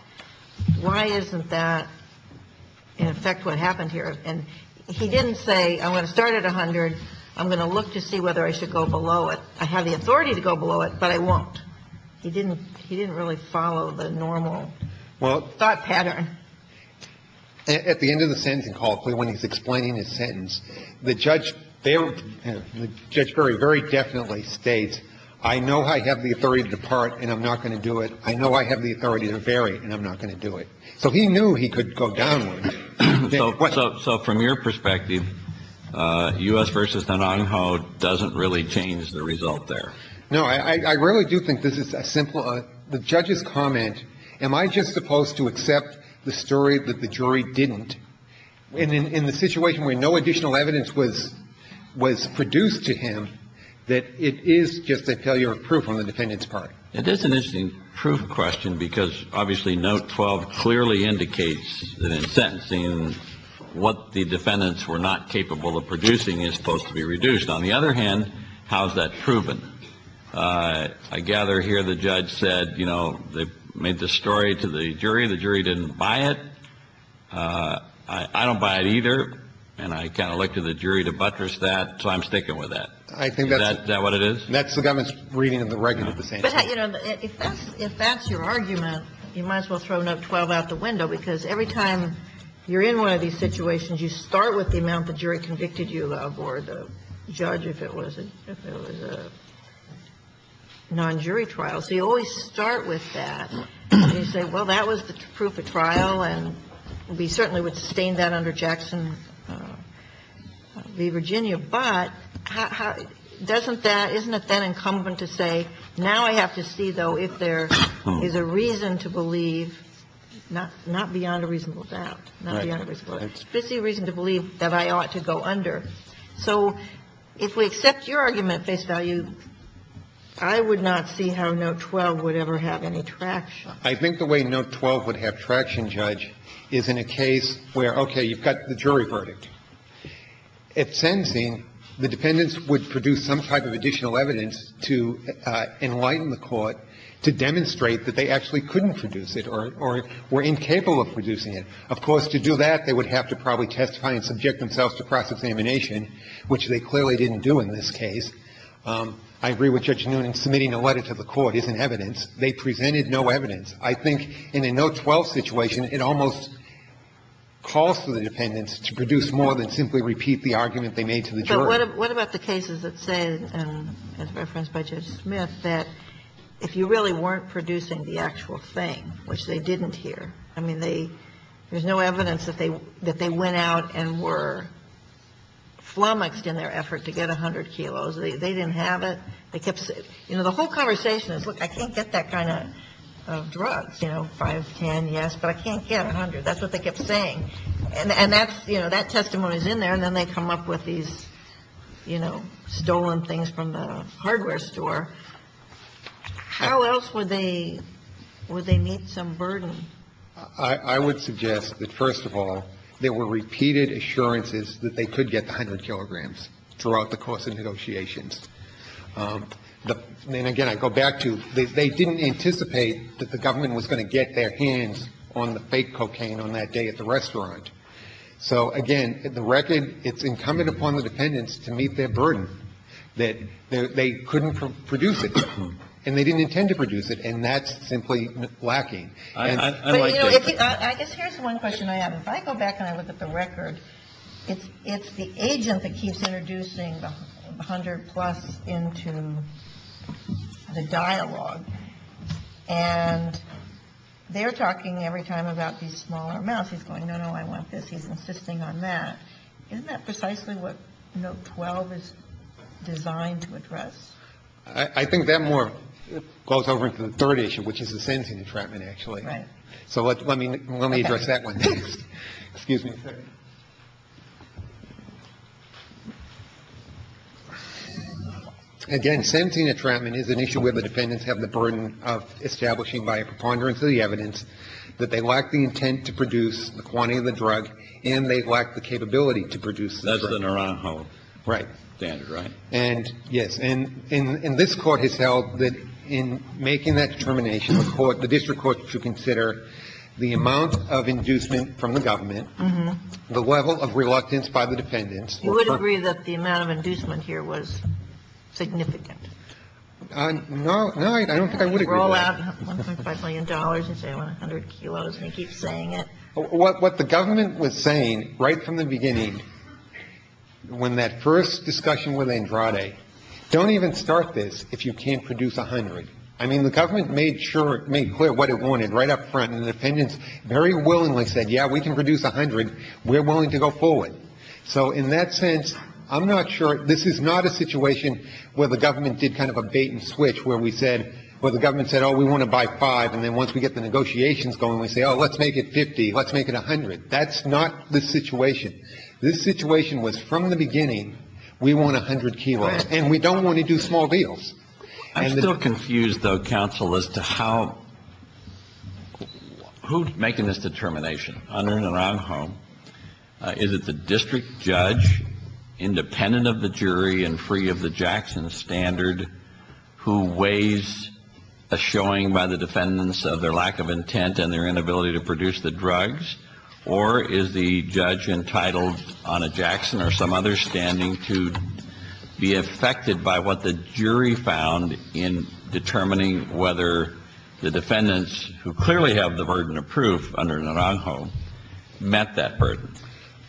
Why isn't that, in effect, what happened here? And he didn't say I'm going to start at 100, I'm going to look to see whether I should go below it. I have the authority to go below it, but I won't. He didn't really follow the normal thought pattern. At the end of the sentencing call, when he's explaining his sentence, the judge very definitely states, I know I have the authority to depart and I'm not going to do it. I know I have the authority to vary and I'm not going to do it. So he knew he could go downward. So from your perspective, U.S. v. Nanang Ho doesn't really change the result there. No. I really do think this is a simple one. The judge's comment, am I just supposed to accept the story that the jury didn't? And in the situation where no additional evidence was produced to him, that it is just a failure of proof on the defendant's part. It is an interesting proof question because obviously note 12 clearly indicates that in sentencing what the defendants were not capable of producing is supposed to be reduced. On the other hand, how is that proven? I gather here the judge said, you know, they made the story to the jury, the jury didn't buy it. I don't buy it either. And I kind of look to the jury to buttress that, so I'm sticking with that. Is that what it is? And that's the government's reading of the record at the same time. But, you know, if that's your argument, you might as well throw note 12 out the window, because every time you're in one of these situations, you start with the amount the jury convicted you of or the judge, if it was a non-jury trial. So you always start with that. And you say, well, that was the proof at trial, and we certainly would sustain that under Jackson v. Virginia. But doesn't that, isn't it then incumbent to say, now I have to see, though, if there is a reason to believe, not beyond a reasonable doubt, not beyond a reasonable doubt, but a reason to believe that I ought to go under. So if we accept your argument, face value, I would not see how note 12 would ever have any traction. I think the way note 12 would have traction, Judge, is in a case where, okay, you've got the jury verdict. At Sensing, the defendants would produce some type of additional evidence to enlighten the Court to demonstrate that they actually couldn't produce it or were incapable of producing it. Of course, to do that, they would have to probably testify and subject themselves to cross-examination, which they clearly didn't do in this case. I agree with Judge Noonan. Submitting a letter to the Court isn't evidence. They presented no evidence. I think in a note 12 situation, it almost calls to the defendants to produce more than simply repeat the argument they made to the jury. But what about the cases that say, and as referenced by Judge Smith, that if you really weren't producing the actual thing, which they didn't here, I mean, they – there's no evidence that they went out and were flummoxed in their effort to get 100 kilos. They didn't have it. They kept – you know, the whole conversation is, look, I can't get that kind of drug, you know, 5, 10, yes, but I can't get 100. That's what they kept saying. And that's – you know, that testimony is in there, and then they come up with these, you know, stolen things from the hardware store. How else would they – would they meet some burden? I would suggest that, first of all, there were repeated assurances that they could get the 100 kilograms throughout the course of negotiations. And, again, I go back to, they didn't anticipate that the government was going to get their hands on the fake cocaine on that day at the restaurant. So, again, the record, it's incumbent upon the defendants to meet their burden that they couldn't produce it, and they didn't intend to produce it, and that's simply lacking. And I like that. But, you know, I guess here's one question I have. If I go back and I look at the record, it's the agent that keeps introducing the 100 plus into the dialogue. And they're talking every time about these smaller amounts. He's going, no, no, I want this. He's insisting on that. Isn't that precisely what Note 12 is designed to address? I think that more goes over into the third issue, which is the sentencing entrapment, actually. Right. So let me address that one next. Excuse me. Again, sentencing entrapment is an issue where the defendants have the burden of establishing by a preponderance of the evidence that they lack the intent to produce the quantity of the drug, and they lack the capability to produce the drug. That's the Naranjo standard, right? Right. And, yes. And this Court has held that in making that determination, the Court, the district to produce the 100. It is, of course, to consider the amount of inducement from the government, the level of reluctance by the defendants. You would agree that the amount of inducement here was significant? No. No, I don't think I would agree with that. Roll out $1.5 million and say I want 100 kilos and he keeps saying it. What the government was saying right from the beginning, when that first discussion with Andrade, don't even start this if you can't produce 100. I mean, the government made clear what it wanted right up front and the defendants very willingly said, yeah, we can produce 100. We're willing to go forward. So in that sense, I'm not sure. This is not a situation where the government did kind of a bait and switch where the government said, oh, we want to buy five. And then once we get the negotiations going, we say, oh, let's make it 50. Let's make it 100. That's not the situation. This situation was from the beginning, we want 100 kilos. And we don't want to do small deals. I'm still confused, though, counsel, as to how — who's making this determination? Under and around whom? Is it the district judge, independent of the jury and free of the Jackson standard, who weighs a showing by the defendants of their lack of intent and their inability to produce the drugs, or is the judge entitled on a Jackson or some other standing to be affected by what the jury found in determining whether the defendants who clearly have the burden of proof under Naranjo met that burden?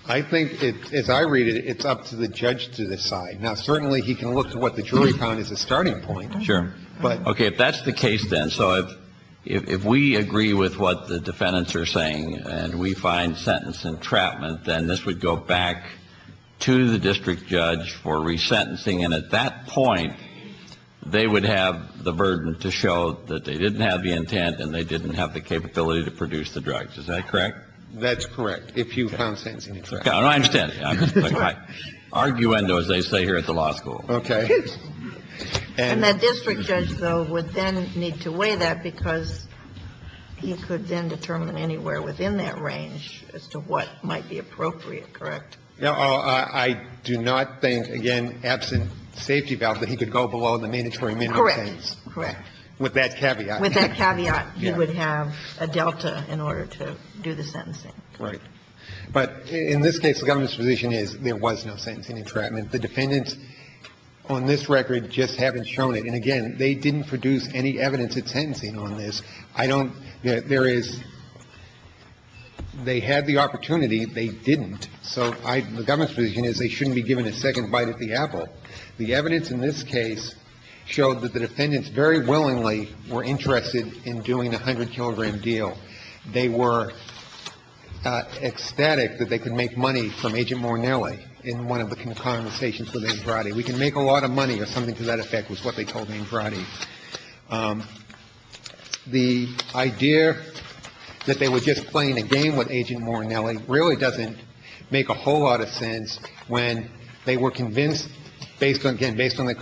I think, as I read it, it's up to the judge to decide. Now, certainly, he can look to what the jury found as a starting point. Sure. But — Okay. If that's the case, then, so if we agree with what the defendants are saying and we find sentence entrapment, then this would go back to the district judge for resentencing. And at that point, they would have the burden to show that they didn't have the intent and they didn't have the capability to produce the drugs. Is that correct? That's correct, if you found sentencing entrapment. I understand. I'm sorry. Arguendo, as they say here at the law school. Okay. And that district judge, though, would then need to weigh that because he could then determine anywhere within that range as to what might be appropriate, correct? No. I do not think, again, absent safety valve, that he could go below the mandatory minimum sentence. Correct. Correct. With that caveat. With that caveat, he would have a delta in order to do the sentencing. Right. But in this case, the government's position is there was no sentencing entrapment. The defendants on this record just haven't shown it. And again, they didn't produce any evidence of sentencing on this. I don't – there is – they had the opportunity. They didn't. So I – the government's position is they shouldn't be given a second bite at the apple. The evidence in this case showed that the defendants very willingly were interested in doing a 100-kilogram deal. They were ecstatic that they could make money from Agent Morinelli in one of the conversations with Andrade. We can make a lot of money, or something to that effect, was what they told Andrade. The idea that they were just playing a game with Agent Morinelli really doesn't make a whole lot of sense when they were convinced, based on – again, based on the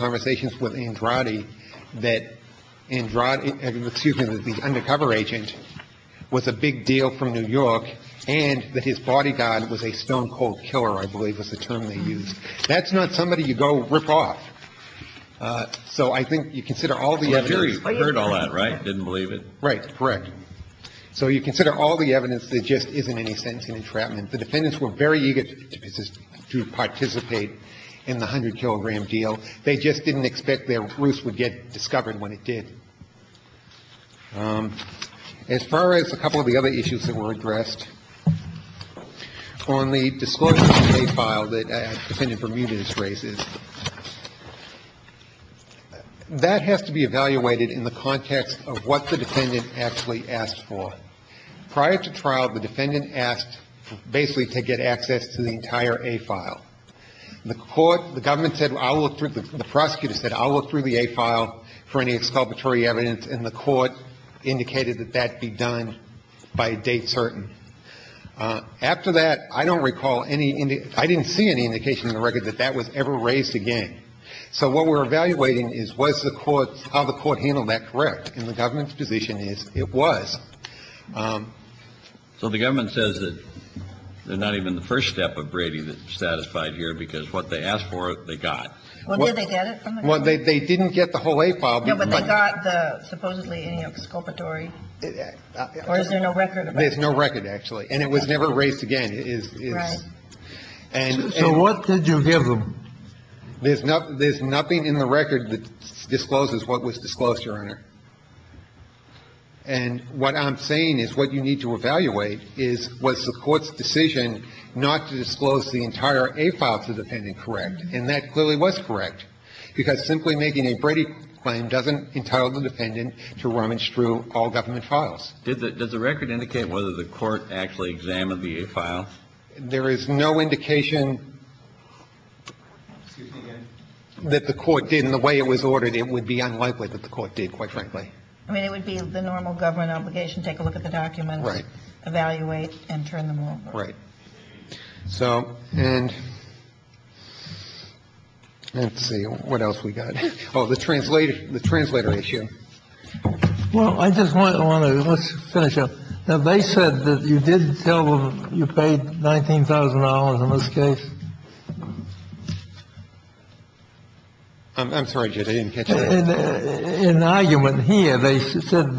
and that his bodyguard was a stone-cold killer, I believe was the term they used. That's not somebody you go rip off. So I think you consider all the evidence. I heard all that, right? Didn't believe it. Right. Correct. So you consider all the evidence. There just isn't any sentencing entrapment. The defendants were very eager to participate in the 100-kilogram deal. They just didn't expect their roots would get discovered when it did. As far as a couple of the other issues that were addressed, on the disclosure of the A file that Defendant Bermudez raises, that has to be evaluated in the context of what the defendant actually asked for. Prior to trial, the defendant asked basically to get access to the entire A file. The court – the government said, I'll look through – the prosecutor said, I'll look through the A file for any exculpatory evidence, and the court indicated that that be done by a date certain. After that, I don't recall any – I didn't see any indication in the record that that was ever raised again. So what we're evaluating is was the court – how the court handled that correct. And the government's position is it was. So the government says that they're not even the first step of Brady that's satisfied here because what they asked for, they got. Well, did they get it from the government? Well, they didn't get the whole A file. Yeah, but they got the supposedly any exculpatory. Or is there no record of that? There's no record, actually. And it was never raised again. Right. So what did you give them? There's nothing in the record that discloses what was disclosed, Your Honor. And what I'm saying is what you need to evaluate is was the court's decision not to disclose the entire A file to the defendant correct. And that clearly was correct because simply making a Brady claim doesn't entitle the defendant to rummage through all government files. Did the – does the record indicate whether the court actually examined the A files? There is no indication that the court did. And the way it was ordered, it would be unlikely that the court did, quite frankly. I mean, it would be the normal government obligation, take a look at the documents. Right. Evaluate and turn them over. Right. So and let's see. What else we got? Oh, the translator issue. Well, I just want to finish up. They said that you did tell them you paid $19,000 in this case. I'm sorry, Judge, I didn't catch that. In the argument here, they said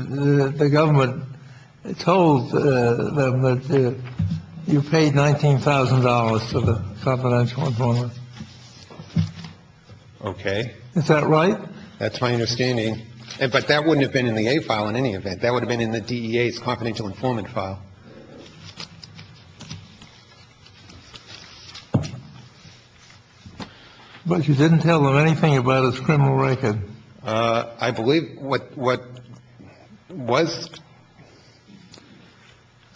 the government told them that you paid $19,000 to the confidential informant. Okay. Is that right? That's my understanding. But that wouldn't have been in the A file in any event. That would have been in the DEA's confidential informant file. But you didn't tell them anything about his criminal record. I believe what was –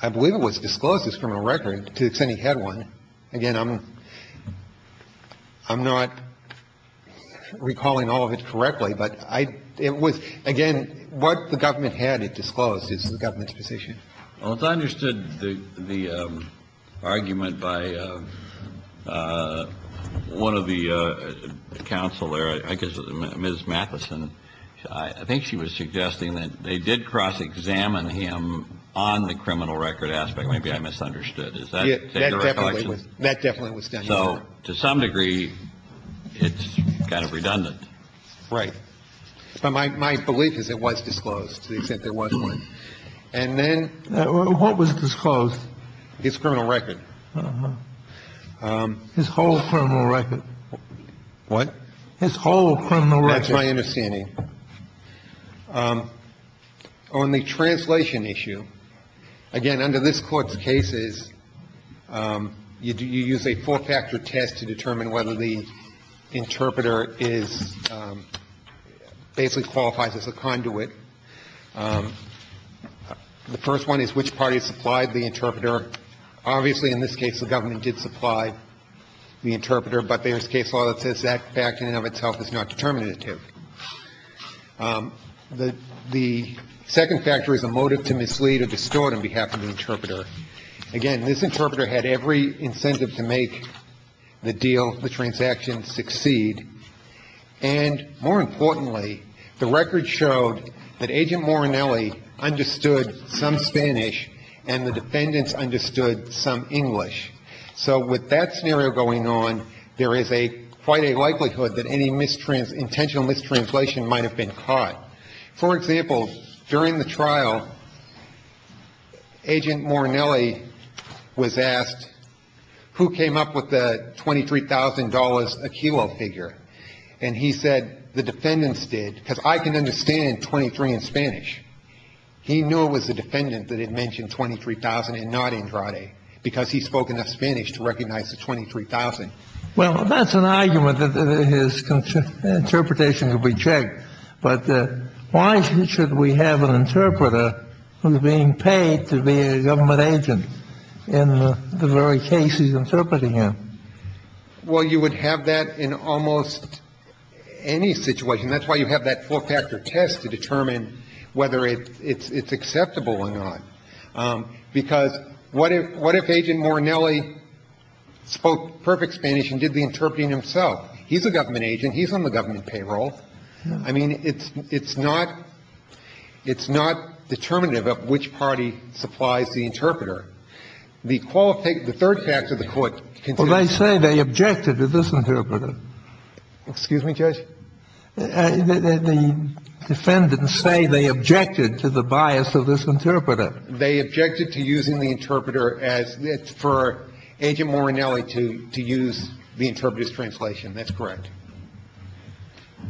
I believe it was disclosed, his criminal record, to the extent he had one. Again, I'm not recalling all of it correctly, but it was – again, what the government had it disclosed is the government's position. Well, as I understood the argument by one of the counsel there, I guess it was Ms. Matheson, I think she was suggesting that they did cross-examine him on the criminal record aspect. Maybe I misunderstood. Is that a recollection? That definitely was done. So to some degree, it's kind of redundant. Right. But my belief is it was disclosed, to the extent there was one. And then – What was disclosed? His criminal record. His whole criminal record. What? His whole criminal record. That's my understanding. On the translation issue, again, under this Court's cases, you use a four-factor test to determine whether the interpreter is – basically qualifies as a conduit. The first one is which party supplied the interpreter. Obviously, in this case, the government did supply the interpreter, but there is case law that says that fact in and of itself is not determinative. The second factor is a motive to mislead or distort on behalf of the interpreter. Again, this interpreter had every incentive to make the deal, the transaction, succeed. And more importantly, the record showed that Agent Morinelli understood some Spanish and the defendants understood some English. So with that scenario going on, there is quite a likelihood that any intentional mistranslation might have been caught. For example, during the trial, Agent Morinelli was asked, who came up with the $23,000 a kilo figure? And he said the defendants did because I can understand 23 in Spanish. He knew it was the defendant that had mentioned 23,000 and not Andrade because he spoke enough Spanish to recognize the 23,000. Well, that's an argument that his interpretation could be checked, but why should we have an agent in the very case he's interpreting him? Well, you would have that in almost any situation. That's why you have that four-factor test to determine whether it's acceptable or not. Because what if Agent Morinelli spoke perfect Spanish and did the interpreting himself? He's a government agent. He's on the government payroll. I mean, it's not, it's not determinative of which party supplies the interpreter. The third factor of the court considers. Well, they say they objected to this interpreter. Excuse me, Judge? The defendants say they objected to the bias of this interpreter. They objected to using the interpreter as for Agent Morinelli to use the interpreter's translation. That's correct.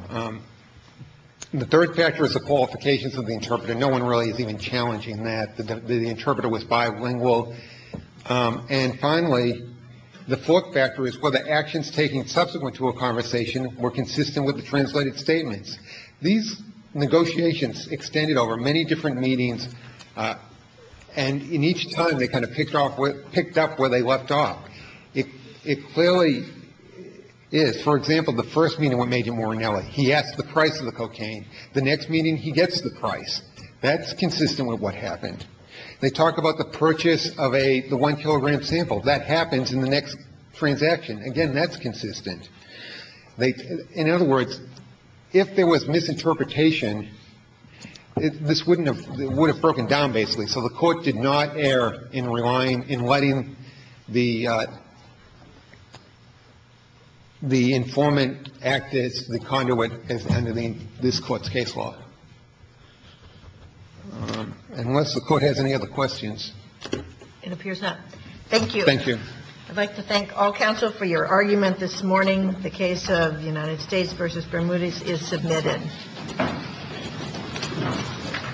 The third factor is the qualifications of the interpreter. No one really is even challenging that. The interpreter was bilingual. And finally, the fourth factor is whether actions taken subsequent to a conversation were consistent with the translated statements. These negotiations extended over many different meetings. And in each time, they kind of picked up where they left off. It clearly is. For example, the first meeting with Agent Morinelli, he asked the price of the cocaine. The next meeting, he gets the price. That's consistent with what happened. They talk about the purchase of a, the one kilogram sample. That happens in the next transaction. Again, that's consistent. In other words, if there was misinterpretation, this wouldn't have, it would have broken down basically. So the Court did not err in relying, in letting the, the informant act as the conduit under the, this Court's case law. Unless the Court has any other questions. It appears not. Thank you. Thank you. I'd like to thank all counsel for your argument this morning. The case of United States v. Bermudez is submitted. Thank you.